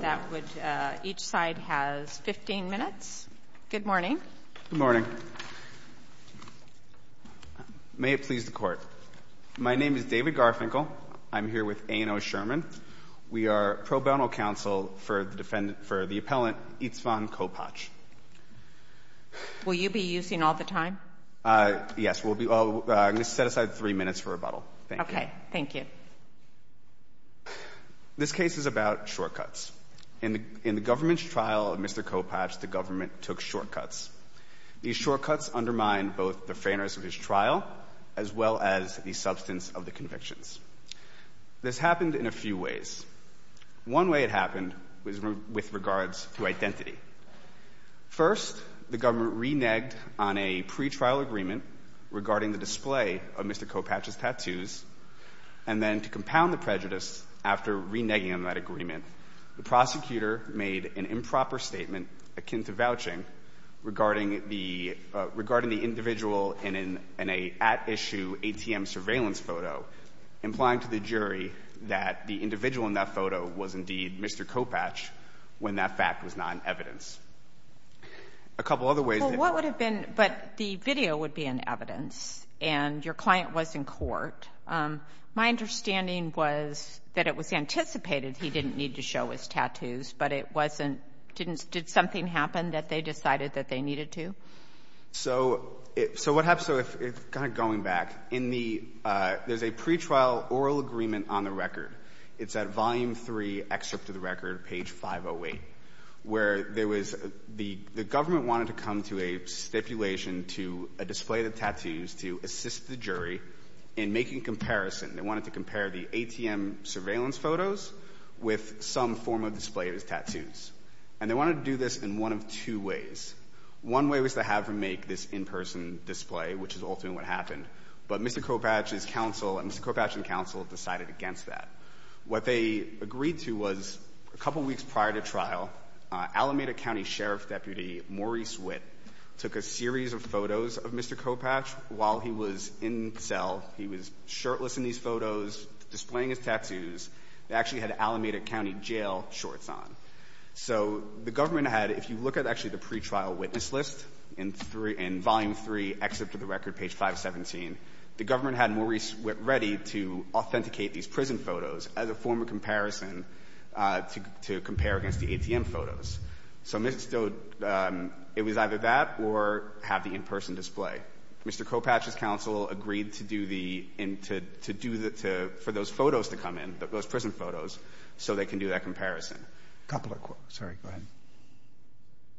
That would, each side has 15 minutes. Good morning. Good morning. May it please the court. My name is David Garfinkel. I'm here with A. N. O. Sherman. We are pro bono counsel for the defendant, for the appellant Istvan Kopacz. Will you be using all the time? Yes, we'll be, I'm going to set aside three minutes for rebuttal. Thank you. Okay, thank you. This case is about shortcuts. In the government's trial of Mr. Kopacz, the government took shortcuts. These shortcuts undermined both the fairness of his trial, as well as the substance of the convictions. This happened in a few ways. One way it happened was with regards to identity. First, the government reneged on a pretrial agreement regarding the display of Mr. Kopacz's identity. And to compound the prejudice, after reneging on that agreement, the prosecutor made an improper statement, akin to vouching, regarding the individual in an at-issue ATM surveillance photo, implying to the jury that the individual in that photo was indeed Mr. Kopacz, when that fact was not in evidence. A couple of other ways that Well, what would have been, but the video would be in evidence, and your client was in court. My understanding was that it was anticipated he didn't need to show his tattoos, but it wasn't, didn't, did something happen that they decided that they needed to? So it, so what happens, so if, kind of going back, in the, there's a pretrial oral agreement on the record. It's at volume three, excerpt of the record, page 508, where there was, the government wanted to come to a stipulation to a display of tattoos to assist the jury in making comparison. They wanted to compare the ATM surveillance photos with some form of display of his tattoos. And they wanted to do this in one of two ways. One way was to have him make this in-person display, which is ultimately what happened. But Mr. Kopacz's counsel and Mr. Kopacz's counsel decided against that. What they agreed to was, a couple of years ago, Alameda County Sheriff's Deputy, Maurice Witt, took a series of photos of Mr. Kopacz while he was in cell. He was shirtless in these photos, displaying his tattoos. They actually had Alameda County Jail shorts on. So the government had, if you look at actually the pretrial witness list, in three, in volume three, excerpt of the record, page 517, the government had Maurice Witt ready to authenticate these prison photos as a form of comparison to compare against the ATM photos. So it was either that or have the in-person display. Mr. Kopacz's counsel agreed to do the, for those photos to come in, those prison photos, so they can do that comparison. A couple of, sorry, go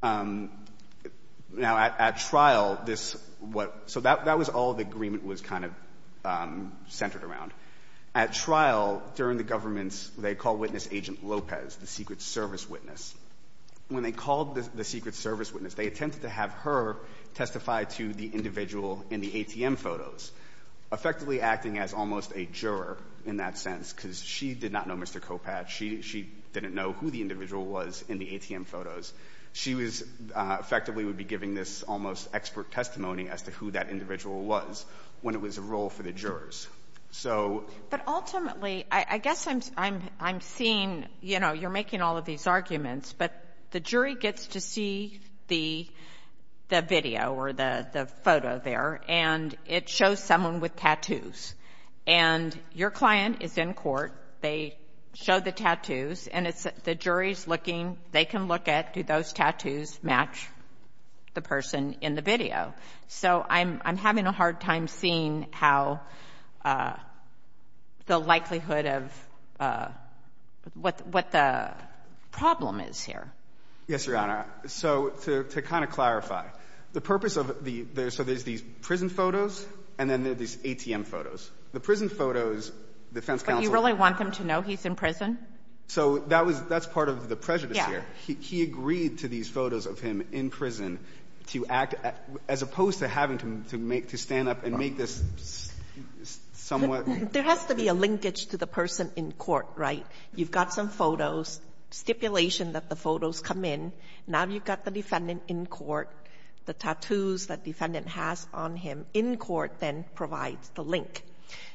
ahead. Now at trial, this, so that was all the agreement was kind of centered around. At trial, during the government's, they called witness Agent Lopez, the Secret Service witness. When they called the Secret Service witness, they attempted to have her testify to the individual in the ATM photos, effectively acting as almost a juror in that sense, because she did not know Mr. Kopacz. She didn't know who the individual was in the ATM photos. She was, effectively would be giving this almost expert testimony as to who that individual was when it was a role for the jurors. So But ultimately, I guess I'm, I'm, I'm seeing, you know, you're making all of these arguments, but the jury gets to see the, the video or the, the photo there, and it shows someone with tattoos. And your client is in court, they show the tattoos, and it's, the jury's looking, they can look at, do those tattoos match the person in the video? So I'm, I'm having a hard time seeing how, the likelihood of what, what the problem is here. Yes, Your Honor. So to, to kind of clarify, the purpose of the, there's, so there's these prison photos, and then there's these ATM photos. The prison photos, defense counsel But you really want them to know he's in prison? So that was, that's part of the prejudice here. He, he agreed to these photos of him in prison to act, as opposed to having to, to make, to stand up and make this somewhat There has to be a linkage to the person in court, right? You've got some photos, stipulation that the photos come in. Now you've got the defendant in court, the tattoos that defendant has on him in court then provides the link.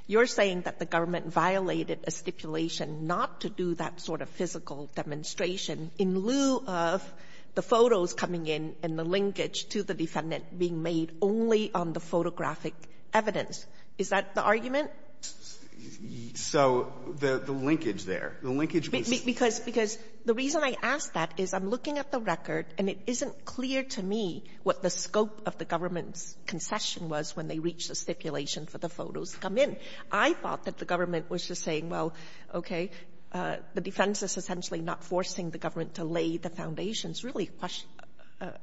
You're saying that the government violated a stipulation not to do that sort of physical demonstration in lieu of the photos coming in and the linkage to the defendant being made only on the photographic evidence. Is that the argument? So the, the linkage there, the linkage was Because, because the reason I ask that is I'm looking at the record, and it isn't clear to me what the scope of the government's concession was when they reached the stipulation for the photos to come in. I thought that the government was just saying, well, okay, the defense is essentially not forcing the government to lay the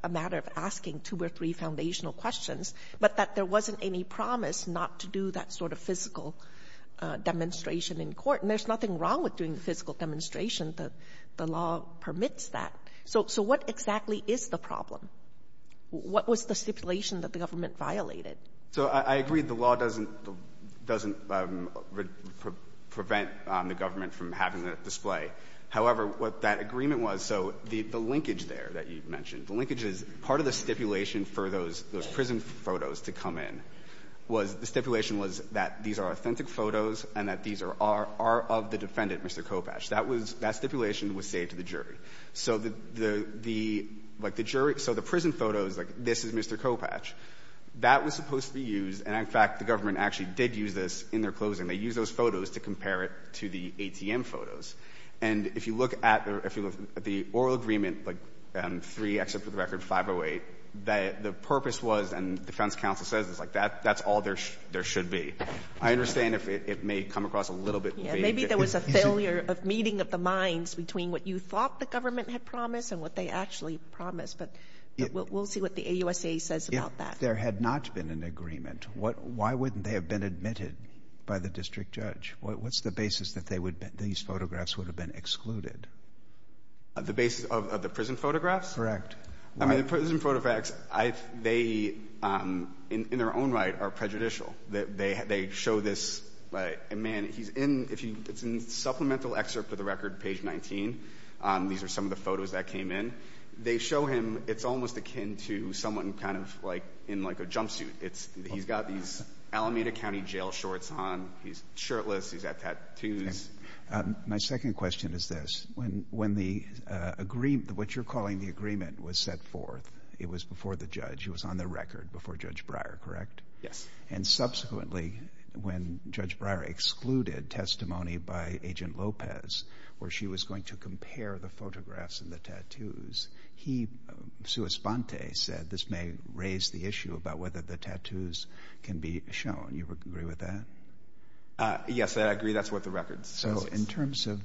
a matter of asking two or three foundational questions, but that there wasn't any promise not to do that sort of physical demonstration in court. And there's nothing wrong with doing the physical demonstration. The law permits that. So what exactly is the problem? What was the stipulation that the government violated? So I agree the law doesn't, doesn't prevent the government from having that display. However, what that agreement was, so the, the linkage there that you mentioned, the linkage is part of the stipulation for those, those prison photos to come in was the stipulation was that these are authentic photos and that these are, are of the defendant, Mr. Kopatch. That was, that stipulation was saved to the jury. So the, the, like the jury, so the prison photos, like this is Mr. Kopatch, that was supposed to be used, and in fact, the government actually did use this in their closing. They used those photos to compare it to the ATM photos. And if you look at the, if you look at the oral agreement, like three except for the record, 508, that the purpose was, and defense counsel says it's like that, that's all there, there should be. I understand if it, it may come across a little bit vague. Yeah, maybe there was a failure of meeting of the minds between what you thought the government had promised and what they actually promised. But we'll, we'll see what the AUSA says about that. If there had not been an agreement, what, why wouldn't they have been admitted by the district judge? What, what's the basis that they would, that these photographs would have been excluded? The basis of, of the prison photographs? Correct. I mean, the prison photographs, I, they, in, in their own right are prejudicial. That they, they show this, like, a man, he's in, if you, it's in the supplemental excerpt for the record, page 19. These are some of the photos that came in. They show him, it's almost akin to someone kind of like, in like a jumpsuit. It's, he's got these Alameda County jail shorts on, he's shirtless, he's got tattoos. My second question is this. When, when the agreement, what you're calling the agreement was set forth, it was before the judge, it was on the record before Judge Breyer, correct? Yes. And subsequently, when Judge Breyer excluded testimony by Agent Lopez, where she was going to compare the photographs and the tattoos, he, sua sponte, said this may raise the issue about whether the tattoos can be shown. You agree with that? Yes, I agree. That's what the record says. So in terms of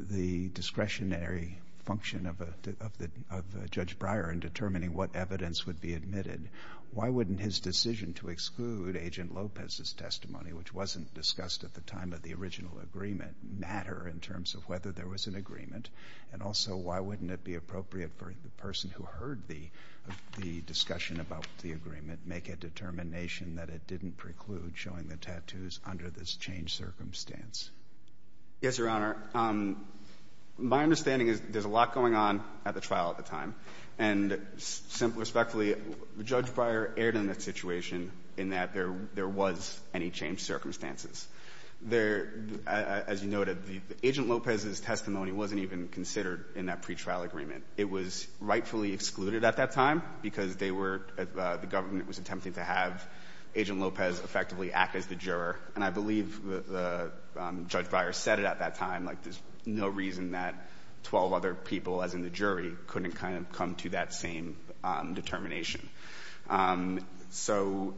the discretionary function of a, of the, of Judge Breyer in determining what evidence would be admitted, why wouldn't his decision to exclude Agent Lopez's testimony, which wasn't discussed at the time of the original agreement, matter in terms of whether there was an agreement? And also why wouldn't it be appropriate for the person who heard the, the discussion about the agreement make a determination that it didn't preclude showing the tattoos under this changed circumstance? Yes, Your Honor. My understanding is there's a lot going on at the trial at the time. And simply, respectfully, Judge Breyer erred in that situation in that there was any changed circumstances. There, as you noted, Agent Lopez's testimony wasn't even considered in that pretrial agreement. It was rightfully excluded at that time because they were, the government was attempting to have Agent Lopez effectively act as the juror. And I believe the, the Judge Breyer said it at that time, like there's no reason that 12 other people, as in the jury, couldn't kind of come to that same determination. So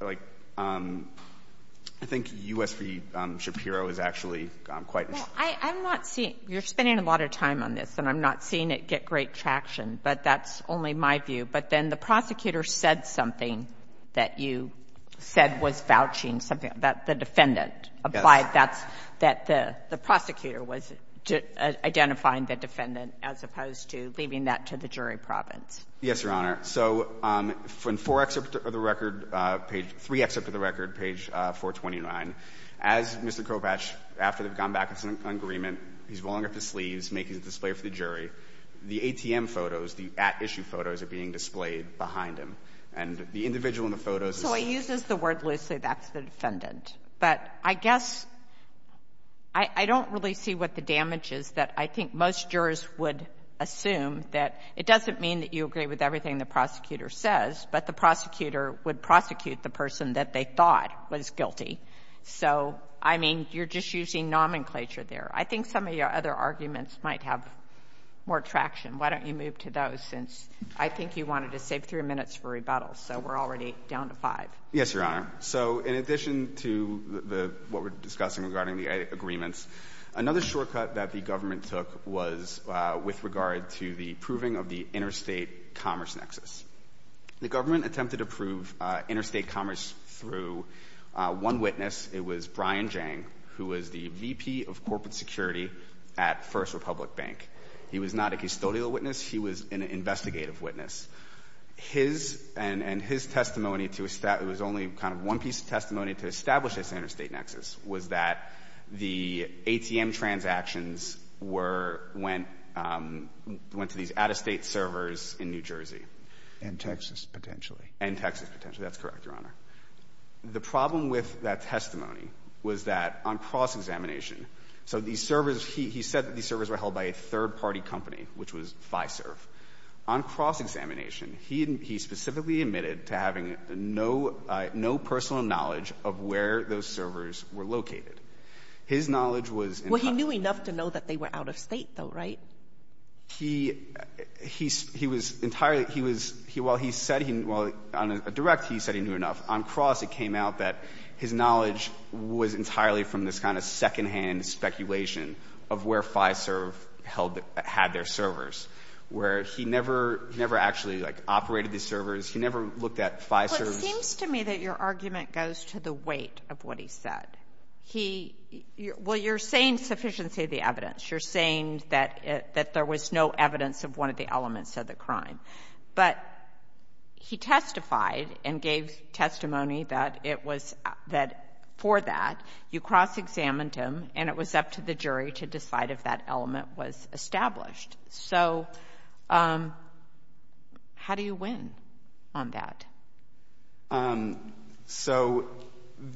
like, I think U.S. v. Shapiro is actually quite Well, I, I'm not seeing, you're spending a lot of time on this, and I'm not seeing it get great traction. But that's only my view. But then the prosecutor said something that you said was vouching, something that the defendant applied, that's, that the, the prosecutor was identifying the defendant as opposed to leaving that to the jury province. Yes, Your Honor. So in 4 excerpt of the record, page, 3 excerpt of the record, page 429, as Mr. Kovach, after they've gone back on some agreement, he's rolling up his sleeves, making a display for the jury, the ATM photos, the at-issue photos are being displayed behind him. And the individual in the photos is So he uses the word loosely, that's the defendant. But I guess, I, I don't really see what the damage is that I think most jurors would assume, that it doesn't mean that you agree with everything the prosecutor says, but the prosecutor would prosecute the person that they thought was guilty. So, I mean, you're just using nomenclature there. I think some of your other arguments might have more traction. Why don't you move to those, since I think you wanted to save 3 minutes for rebuttals. So we're already down to 5. Yes, Your Honor. So in addition to the, what we're discussing regarding the agreements, another shortcut that the government took was with regard to the approving of the interstate commerce nexus. The government attempted to approve interstate commerce through one witness. It was Brian Jang, who was the VP of corporate security at First Republic Bank. He was not a custodial witness, he was an investigative witness. His, and, and his testimony to, it was only kind of one piece of testimony to establish this interstate nexus, was that the ATM transactions were, went, went to these out-of-state servers in New Jersey. And Texas, potentially. And Texas, potentially. That's correct, Your Honor. The problem with that testimony was that on cross-examination, so these servers, he, he said that these servers were held by a third-party company, which was Fiserv. On cross-examination, he, he specifically admitted to having no, no personal knowledge of where those servers were located. His knowledge was in- Well, he knew enough to know that they were out-of-state, though, right? He, he, he was entirely, he was, he, while he said he knew, well, on a direct, he said he knew enough. On cross, it came out that his knowledge was entirely from this kind of second-hand speculation of where Fiserv held, had their servers, where he never, never actually, like, operated these servers. He never looked at Fiserv's- Well, it seems to me that your argument goes to the weight of what he said. He, well, you're saying sufficiency of the evidence. You're saying that, that there was no evidence of one of the elements of the crime. But he testified and gave testimony that it was, that for that, you cross-examined him, and it was up to the jury to decide if that element was established. So how do you win on that? So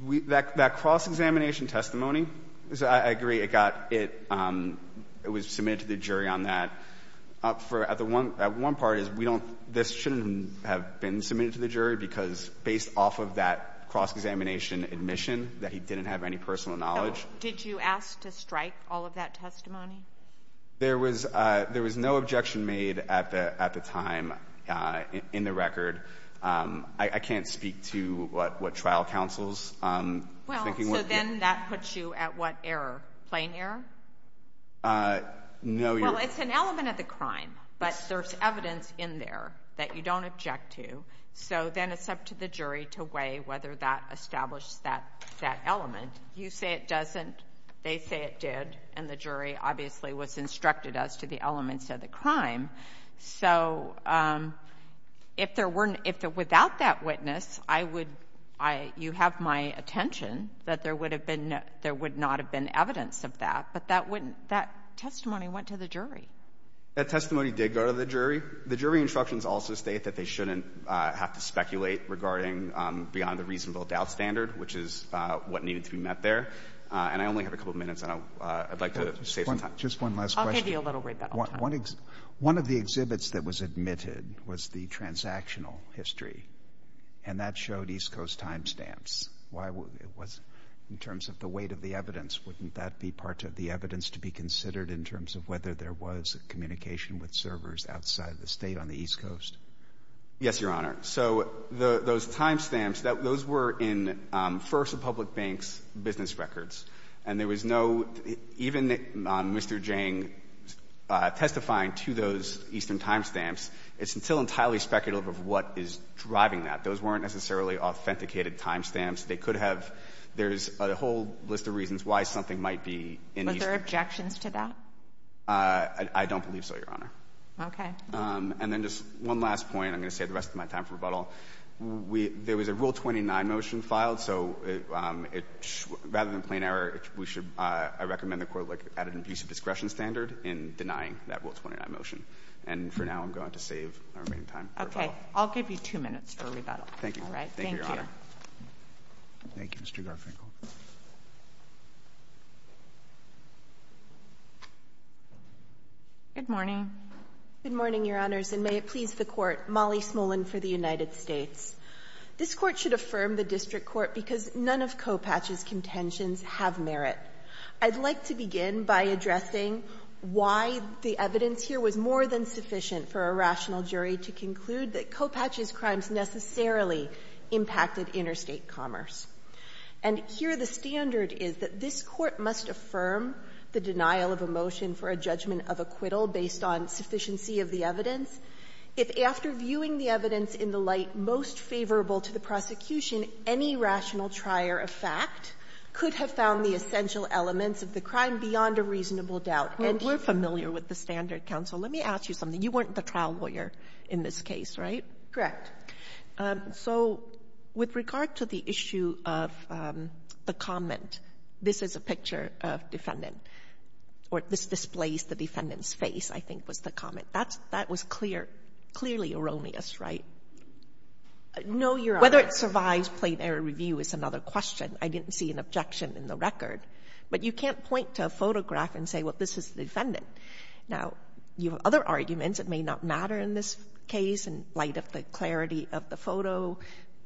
we, that, that cross-examination testimony, I agree, it got, it, it was submitted to the jury on that. For, at the one, at one part is we don't, this shouldn't have been submitted to the jury because based off of that cross-examination admission that he didn't have any personal knowledge. So did you ask to strike all of that testimony? There was, there was no objection made at the, at the time in the record. I, I can't speak to what, what trial counsels, I'm thinking what they're. Well, so then that puts you at what error? Plain error? No, your. Well, it's an element of the crime, but there's evidence in there that you don't object to. So then it's up to the jury to weigh whether that established that, that element. You say it doesn't, they say it did, and the jury obviously was instructed as to the elements of the crime. So if there weren't, if there, without that witness, I would, I, you have my attention that there would have been, there would not have been evidence of that, but that wouldn't, that testimony went to the jury. That testimony did go to the jury. The jury instructions also state that they shouldn't have to speculate regarding beyond the reasonable doubt standard, which is what needed to be met there. And I only have a couple of minutes, and I would like to save some time. Just one last question. I'll give you a little bit of time. One of the exhibits that was admitted was the transactional history, and that showed East Coast timestamps. Why was, in terms of the weight of the evidence, wouldn't that be part of the evidence to be considered in terms of whether there was a communication with servers outside of the State on the East Coast? Yes, Your Honor. So those timestamps, those were in, first, the public bank's business records, and there was no, even on Mr. Jiang testifying to those Eastern timestamps, it's still entirely speculative of what is driving that. Those weren't necessarily authenticated timestamps. They could have, there's a whole list of reasons why something might be in Eastern. Was there objections to that? I don't believe so, Your Honor. Okay. And then just one last point. I'm going to save the rest of my time for rebuttal. There was a Rule 29 motion filed, so rather than plain error, I recommend the Court add an abuse of discretion standard in denying that Rule 29 motion. And for now, I'm going to save my remaining time for rebuttal. Okay. I'll give you two minutes for rebuttal. Thank you. All right. Thank you, Your Honor. Thank you, Mr. Garfinkel. Good morning. Good morning, Your Honors. And may it please the Court, Molly Smolin for the United States. This Court should affirm the district court because none of Kopach's contentions have merit. I'd like to begin by addressing why the evidence here was more than sufficient for a rational jury to conclude that Kopach's crimes necessarily impacted interstate commerce. And here the standard is that this Court must affirm the denial of a motion for a judgment of acquittal based on sufficiency of the evidence. If after viewing the evidence in the light most favorable to the prosecution, any rational trier of fact could have found the essential elements of the crime beyond a reasonable doubt. And we're familiar with the standard, counsel. Let me ask you something. You weren't the trial lawyer in this case, right? Correct. So with regard to the issue of the comment, this is a picture of defendant, or this displays the defendant's face, I think was the comment. That was clear, clearly erroneous, right? No, Your Honors. Whether it survives plain error review is another question. I didn't see an objection in the record. But you can't point to a photograph and say, well, this is the defendant. Now, you have other arguments. It may not matter in this case in light of the clarity of the photo,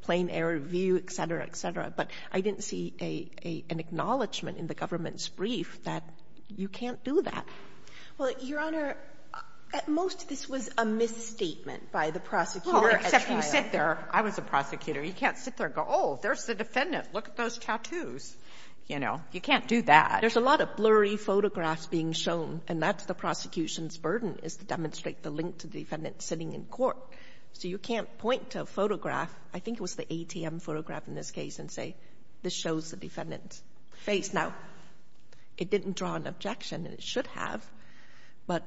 plain error view, et cetera, et cetera. But I didn't see an acknowledgment in the government's brief that you can't do that. Well, Your Honor, at most, this was a misstatement by the prosecutor at trial. Well, except you sit there. I was a prosecutor. You can't sit there and go, oh, there's the defendant. Look at those tattoos. You know, you can't do that. There's a lot of blurry photographs being shown, and that's the prosecution's burden, is to demonstrate the link to the defendant sitting in court. So you can't point to a photograph. face. Now, it didn't draw an objection, and it should have. But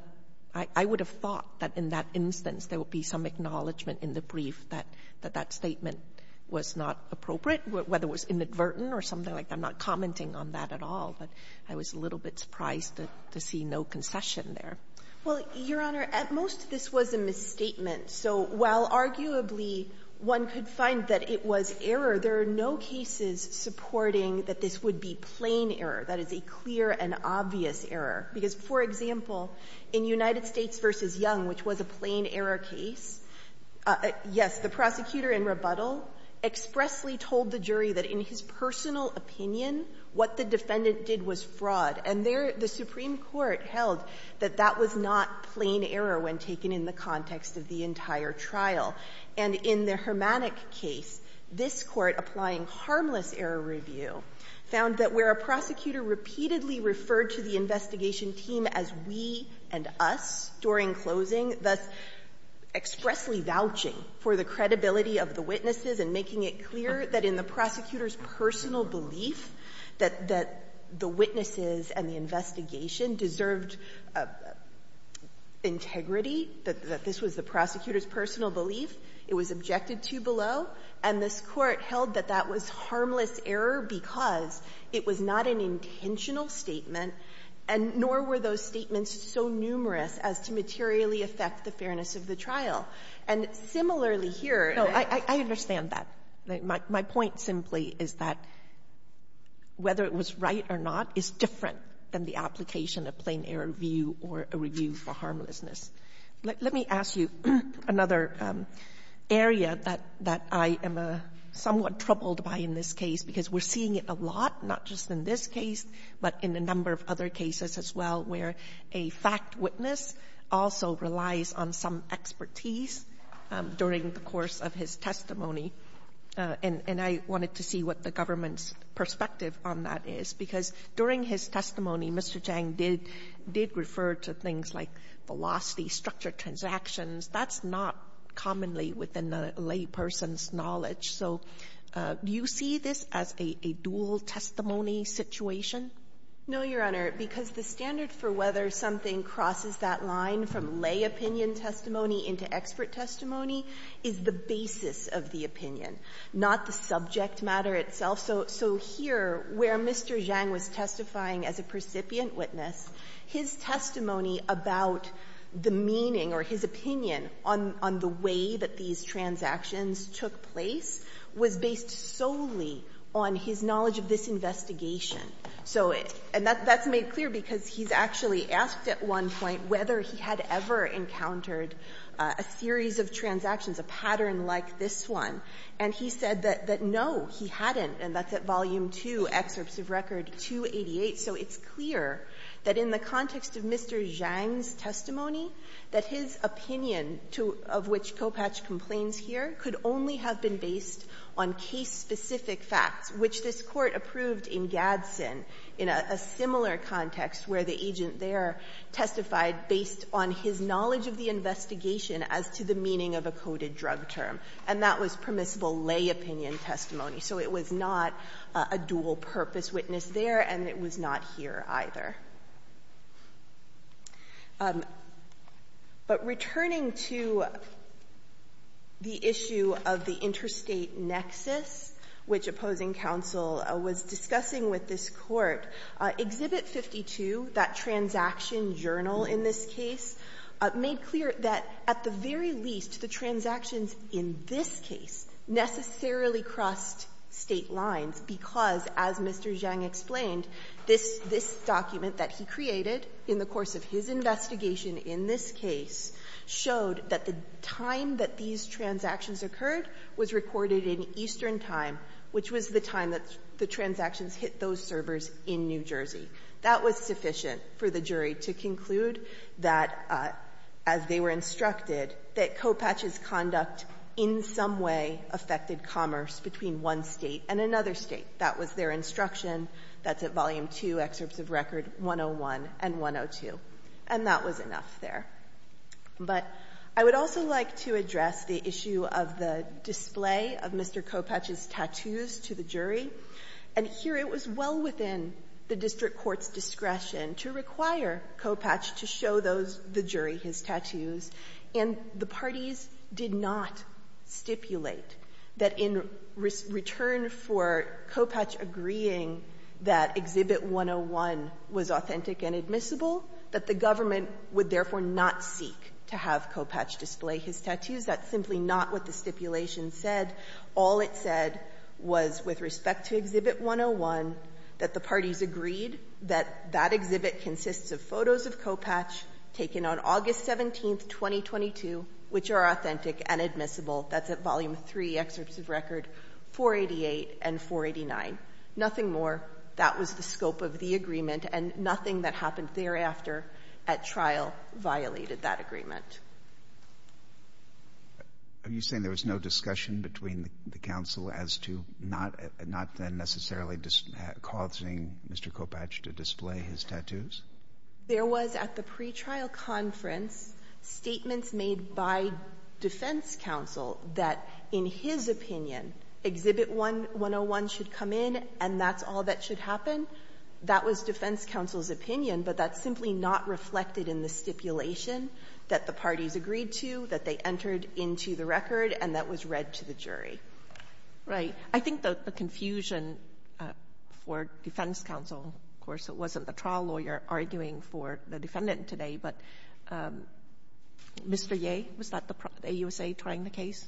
I would have thought that in that instance there would be some acknowledgment in the brief that that statement was not appropriate, whether it was inadvertent or something like that. I'm not commenting on that at all. But I was a little bit surprised to see no concession there. Well, Your Honor, at most, this was a misstatement. So while arguably one could find that it was error, there are no cases supporting that this would be plain error, that it's a clear and obvious error. Because, for example, in United States v. Young, which was a plain error case, yes, the prosecutor in rebuttal expressly told the jury that in his personal opinion what the defendant did was fraud. And there the Supreme Court held that that was not plain error when taken in the context of the entire trial. And in the Hermanic case, this Court, applying harmless error review, found that where a prosecutor repeatedly referred to the investigation team as we and us during closing, thus expressly vouching for the credibility of the witnesses and making it clear that in the prosecutor's personal belief that the witnesses and the investigation team deserved integrity, that this was the prosecutor's personal belief, it was objected to below, and this Court held that that was harmless error because it was not an intentional statement, and nor were those statements so numerous as to materially affect the fairness of the trial. And similarly here the Justice Sotomayor. Sotomayor, I understand that. My point simply is that whether it was right or not is different than the application of plain error review or a review for harmlessness. Let me ask you another area that I am somewhat troubled by in this case, because we're seeing it a lot, not just in this case, but in a number of other cases as well, where a fact witness also relies on some expertise during the course of his testimony. And I wanted to see what the government's perspective on that is. Because during his testimony, Mr. Zhang did refer to things like velocity, structured transactions. That's not commonly within a layperson's knowledge. So do you see this as a dual testimony situation? No, Your Honor, because the standard for whether something crosses that line from lay opinion testimony into expert testimony is the basis of the opinion, not the subject matter itself. So here, where Mr. Zhang was testifying as a precipient witness, his testimony about the meaning or his opinion on the way that these transactions took place was based solely on his knowledge of this investigation. So it's – and that's made clear because he's actually asked at one point whether he had ever encountered a series of transactions, a pattern like this one, and he said that no, he hadn't, and that's at volume 2, excerpts of record 288. So it's clear that in the context of Mr. Zhang's testimony, that his opinion to – of which Kopach complains here could only have been based on case-specific facts, which this Court approved in Gadsden in a similar context where the agent there testified based on his knowledge of the investigation as to the meaning of a coded drug term. And that was permissible lay opinion testimony. So it was not a dual-purpose witness there, and it was not here either. But returning to the issue of the interstate nexus, which opposing counsel was discussing with this Court, Exhibit 52, that transaction journal in this case, made clear that at the very least the transactions in this case necessarily crossed State lines because, as Mr. Zhang explained, this – this document that he created in the course of his investigation in this case showed that the time that these transactions occurred was recorded in Eastern time, which was the time that the transactions hit those servers in New Jersey. That was sufficient for the jury to conclude that, as they were instructed, that Kopach's conduct in some way affected commerce between one State and another State. That was their instruction. That's at Volume II, Excerpts of Record 101 and 102. And that was enough there. But I would also like to address the issue of the display of Mr. Kopach's tattoos to the jury. And here it was well within the district court's discretion to require Kopach to show those – the jury his tattoos. And the parties did not stipulate that in return for Kopach agreeing that Exhibit 101 was authentic and admissible, that the government would therefore not seek to have Kopach display his tattoos. That's simply not what the stipulation said. All it said was, with respect to Exhibit 101, that the parties agreed that that exhibit consists of photos of Kopach taken on August 17, 2022, which are authentic and admissible. That's at Volume III, Excerpts of Record 488 and 489. Nothing more. That was the scope of the agreement. And nothing that happened thereafter at trial violated that agreement. Are you saying there was no discussion between the counsel as to not necessarily causing Mr. Kopach to display his tattoos? There was, at the pretrial conference, statements made by defense counsel that in his opinion, Exhibit 101 should come in and that's all that should happen. That was defense counsel's opinion, but that's simply not reflected in the stipulation that the parties agreed to, that they entered into the record, and that was read to the jury. Right. I think the confusion for defense counsel, of course, it wasn't the trial lawyer arguing for the defendant today, but Mr. Yeh, was that the AUSA trying the case?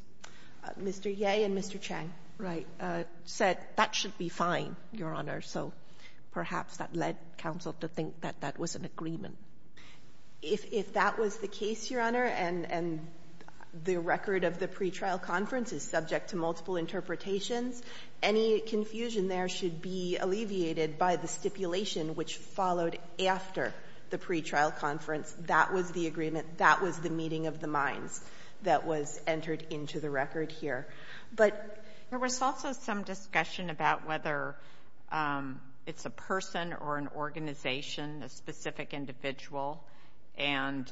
Mr. Yeh and Mr. Chang. Right. Said that should be fine, Your Honor, so perhaps that led counsel to think that that was an agreement. If that was the case, Your Honor, and the record of the pretrial conference is subject to multiple interpretations, any confusion there should be alleviated by the stipulation which followed after the pretrial conference. That was the agreement. That was the meeting of the minds that was entered into the record here. But there was also some discussion about whether it's a person or an organization, a specific individual, and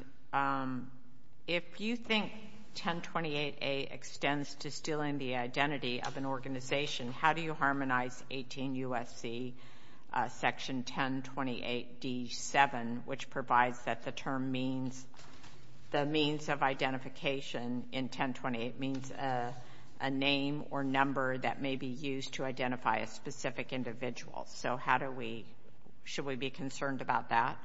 if you think 1028A extends to stealing the identity of an organization, how do you harmonize 18 U.S.C. section 1028D7, which provides that the term means, the means of identification in 1028 means a name or number that may be used to identify a specific individual. So how do we, should we be concerned about that?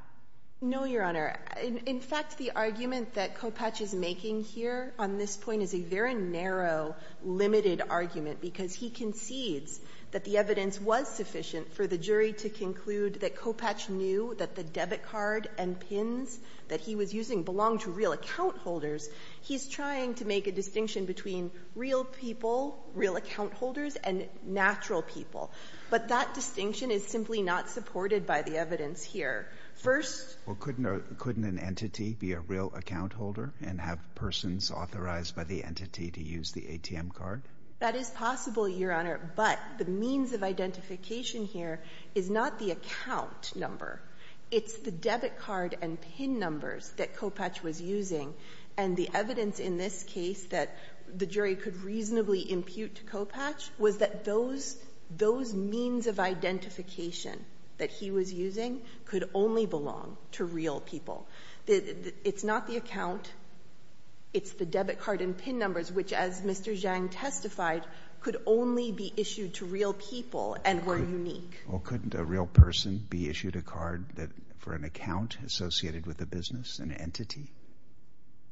No, Your Honor. In fact, the argument that Kopatch is making here on this point is a very narrow, limited argument because he concedes that the evidence was sufficient for the jury to conclude that Kopatch knew that the debit card and pins that he was using belonged to real account holders. He's trying to make a distinction between real people, real account holders, and natural people. But that distinction is simply not supported by the evidence here. First — Well, couldn't an entity be a real account holder and have persons authorized by the entity to use the ATM card? That is possible, Your Honor, but the means of identification here is not the account number. It's the debit card and pin numbers that Kopatch was using. And the evidence in this case that the jury could reasonably impute to Kopatch was that those means of identification that he was using could only belong to real people. It's not the account. It's the debit card and pin numbers, which, as Mr. Zhang testified, could only be issued to real people and were unique. Well, couldn't a real person be issued a card for an account associated with a business, an entity?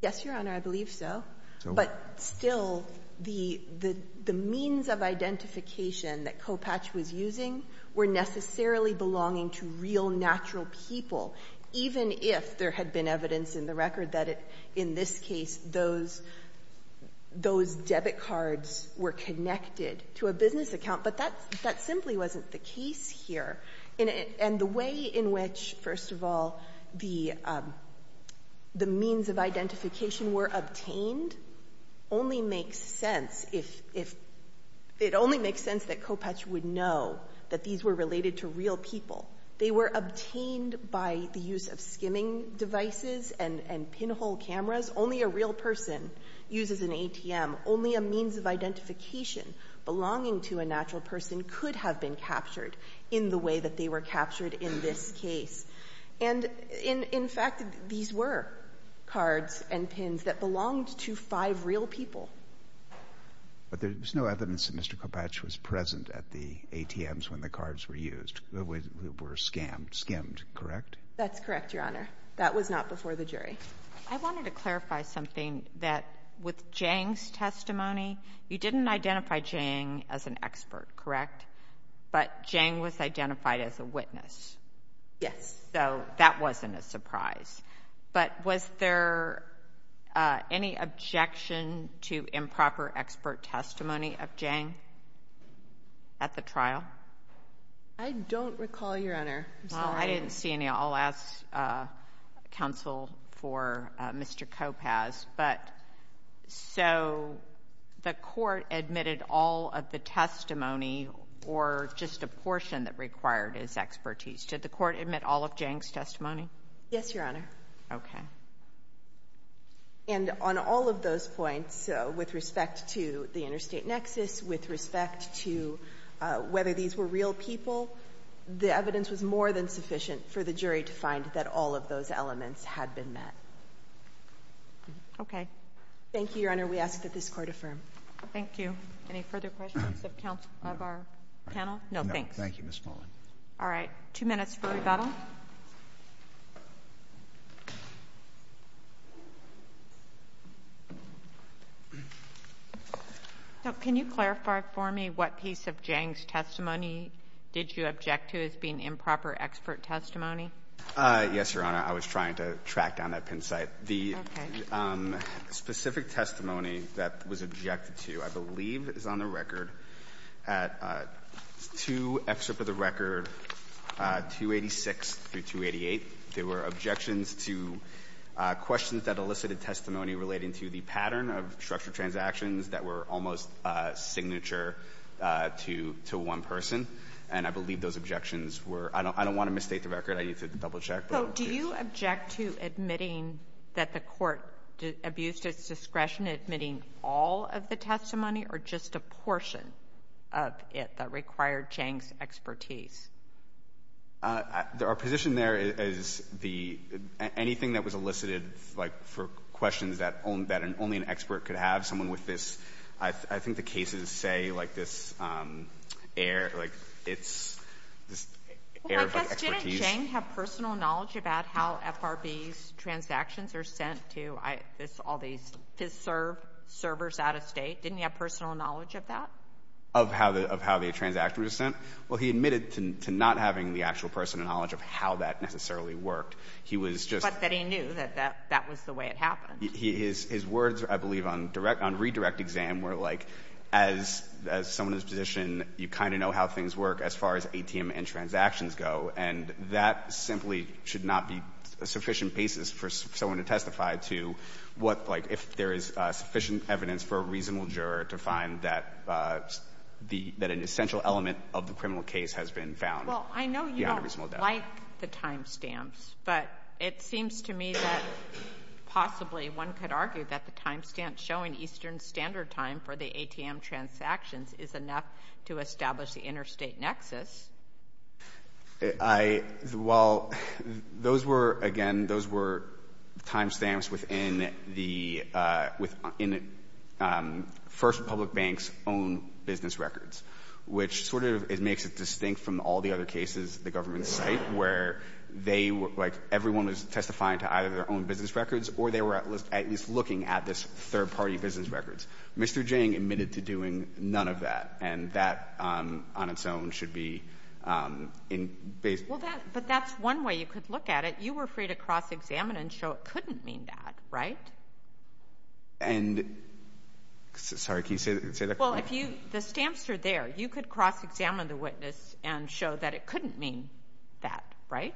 Yes, Your Honor, I believe so. But still, the means of identification that Kopatch was using were necessarily belonging to real, natural people, even if there had been evidence in the record that in this case those debit cards were connected to a business account. But that simply wasn't the case here. And the way in which, first of all, the means of identification were obtained only makes sense if it only makes sense that Kopatch would know that these were related to real people. They were obtained by the use of skimming devices and pinhole cameras. Only a real person uses an ATM. Only a means of identification belonging to a natural person could have been captured in the way that they were captured in this case. And in fact, these were cards and pins that belonged to five real people. But there's no evidence that Mr. Kopatch was present at the ATMs when the cards were used. They were skimmed, correct? That's correct, Your Honor. That was not before the jury. I wanted to clarify something that with Zhang's testimony, you didn't identify Zhang as an expert, correct? But Zhang was identified as a witness. Yes. So that wasn't a surprise. But was there any objection to improper expert testimony of Zhang at the trial? I don't recall, Your Honor. I'm sorry. Well, I didn't see any. I'll ask counsel for Mr. Kopatch. But so the court admitted all of the testimony or just a portion that required his expertise. Did the court admit all of Zhang's testimony? Yes, Your Honor. Okay. And on all of those points, with respect to the interstate nexus, with respect to whether these were real people, the evidence was more than sufficient for the jury to find that all of those elements had been met. Okay. Thank you, Your Honor. We ask that this court affirm. Thank you. Any further questions of our panel? No, thanks. No. Thank you, Ms. Mullen. All right. Two minutes for rebuttal. So can you clarify for me what piece of Zhang's testimony did you object to as being improper expert testimony? Yes, Your Honor. I was trying to track down that pin site. Okay. The specific testimony that was objected to, I believe, is on the record at two excerpts of the record, 286 through 288. There were objections to questions that elicited testimony relating to the pattern of structured transactions that were almost signature to one person. And I believe those objections were — I don't want to misstate the record. I need to double-check. So do you object to admitting that the court abused its discretion in admitting all of the testimony or just a portion of it that required Zhang's expertise? Our position there is the — anything that was elicited, like, for questions that only an expert could have, someone with this — I think the cases say, like, this air — like, it's this air of expertise. Just didn't Zhang have personal knowledge about how FRB's transactions are sent to all these FISR servers out of state? Didn't he have personal knowledge of that? Of how the transactions were sent? Well, he admitted to not having the actual personal knowledge of how that necessarily worked. He was just — But that he knew that that was the way it happened. His words, I believe, on redirect exam were, like, as someone in this position, you kind of know how things work as far as ATM and transactions go. And that simply should not be sufficient basis for someone to testify to what, like, if there is sufficient evidence for a reasonable juror to find that an essential element of the criminal case has been found. Well, I know you don't like the timestamps, but it seems to me that possibly one could argue that the timestamp showing Eastern Standard Time for the ATM transactions is enough to establish the interstate nexus. I — well, those were — again, those were timestamps within the — within First Republic Bank's own business records, which sort of — it makes it distinct from all the other cases the government has cited, where they — like, everyone was testifying to either their own business records or they were at least looking at this third-party business records. Mr. Jiang admitted to doing none of that, and that on its own should be based — Well, that — but that's one way you could look at it. You were free to cross-examine and show it couldn't mean that, right? And — sorry, can you say that again? Well, if you — the stamps are there. You could cross-examine the witness and show that it couldn't mean that, right?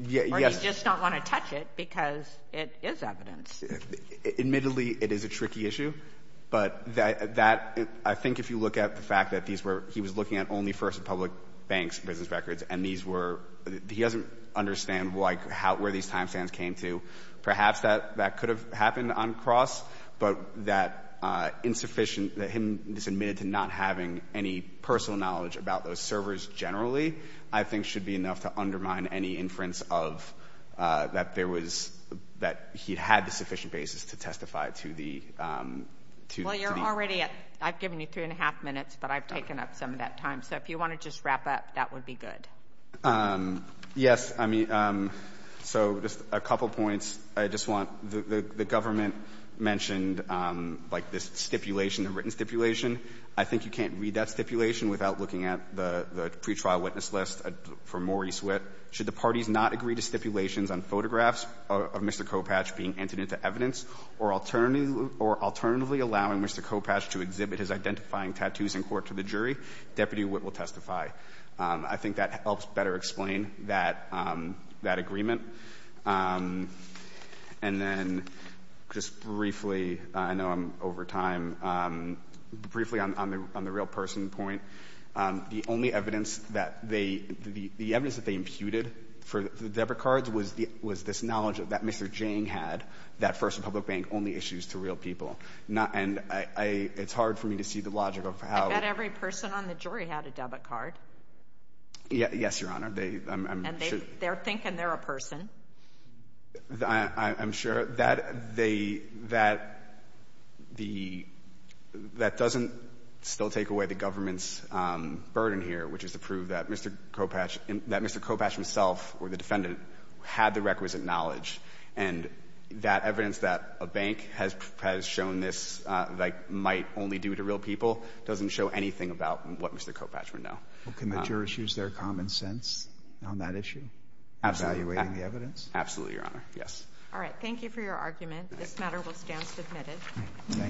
Yes. Or you just don't want to touch it because it is evidence. Admittedly, it is a tricky issue, but that — I think if you look at the fact that these were — he was looking at only First Republic Bank's business records, and these were — he doesn't understand, like, how — where these timestamps came to. Perhaps that could have happened uncrossed, but that insufficient — that him just admitted to not having any personal knowledge about those servers generally, I think should be enough to undermine any inference of that there was — that he had the sufficient basis to testify to the — Well, you're already at — I've given you three and a half minutes, but I've taken up some of that time. So if you want to just wrap up, that would be good. Yes. I mean, so just a couple points. I just want — the government mentioned, like, this stipulation, the written stipulation. I think you can't read that stipulation without looking at the pre-trial witness list from Maurice Witt. But should the parties not agree to stipulations on photographs of Mr. Kopatch being entered into evidence or alternatively allowing Mr. Kopatch to exhibit his identifying tattoos in court to the jury, Deputy Witt will testify. I think that helps better explain that agreement. And then just briefly — I know I'm over time — briefly on the real-person point, the only evidence that they — the evidence that they imputed for the debit cards was this knowledge that Mr. Jiang had that First Republic Bank only issues to real people. And it's hard for me to see the logic of how — I bet every person on the jury had a debit card. Yes, Your Honor. And they're thinking they're a person. I'm sure that they — that doesn't still take away the government's ability to prove that Mr. Kopatch — that Mr. Kopatch himself or the defendant had the requisite knowledge. And that evidence that a bank has shown this like might only do to real people doesn't show anything about what Mr. Kopatch would know. Well, can the jurors use their common sense on that issue? Absolutely. Evaluating the evidence? Absolutely, Your Honor. Yes. All right. Thank you for your argument.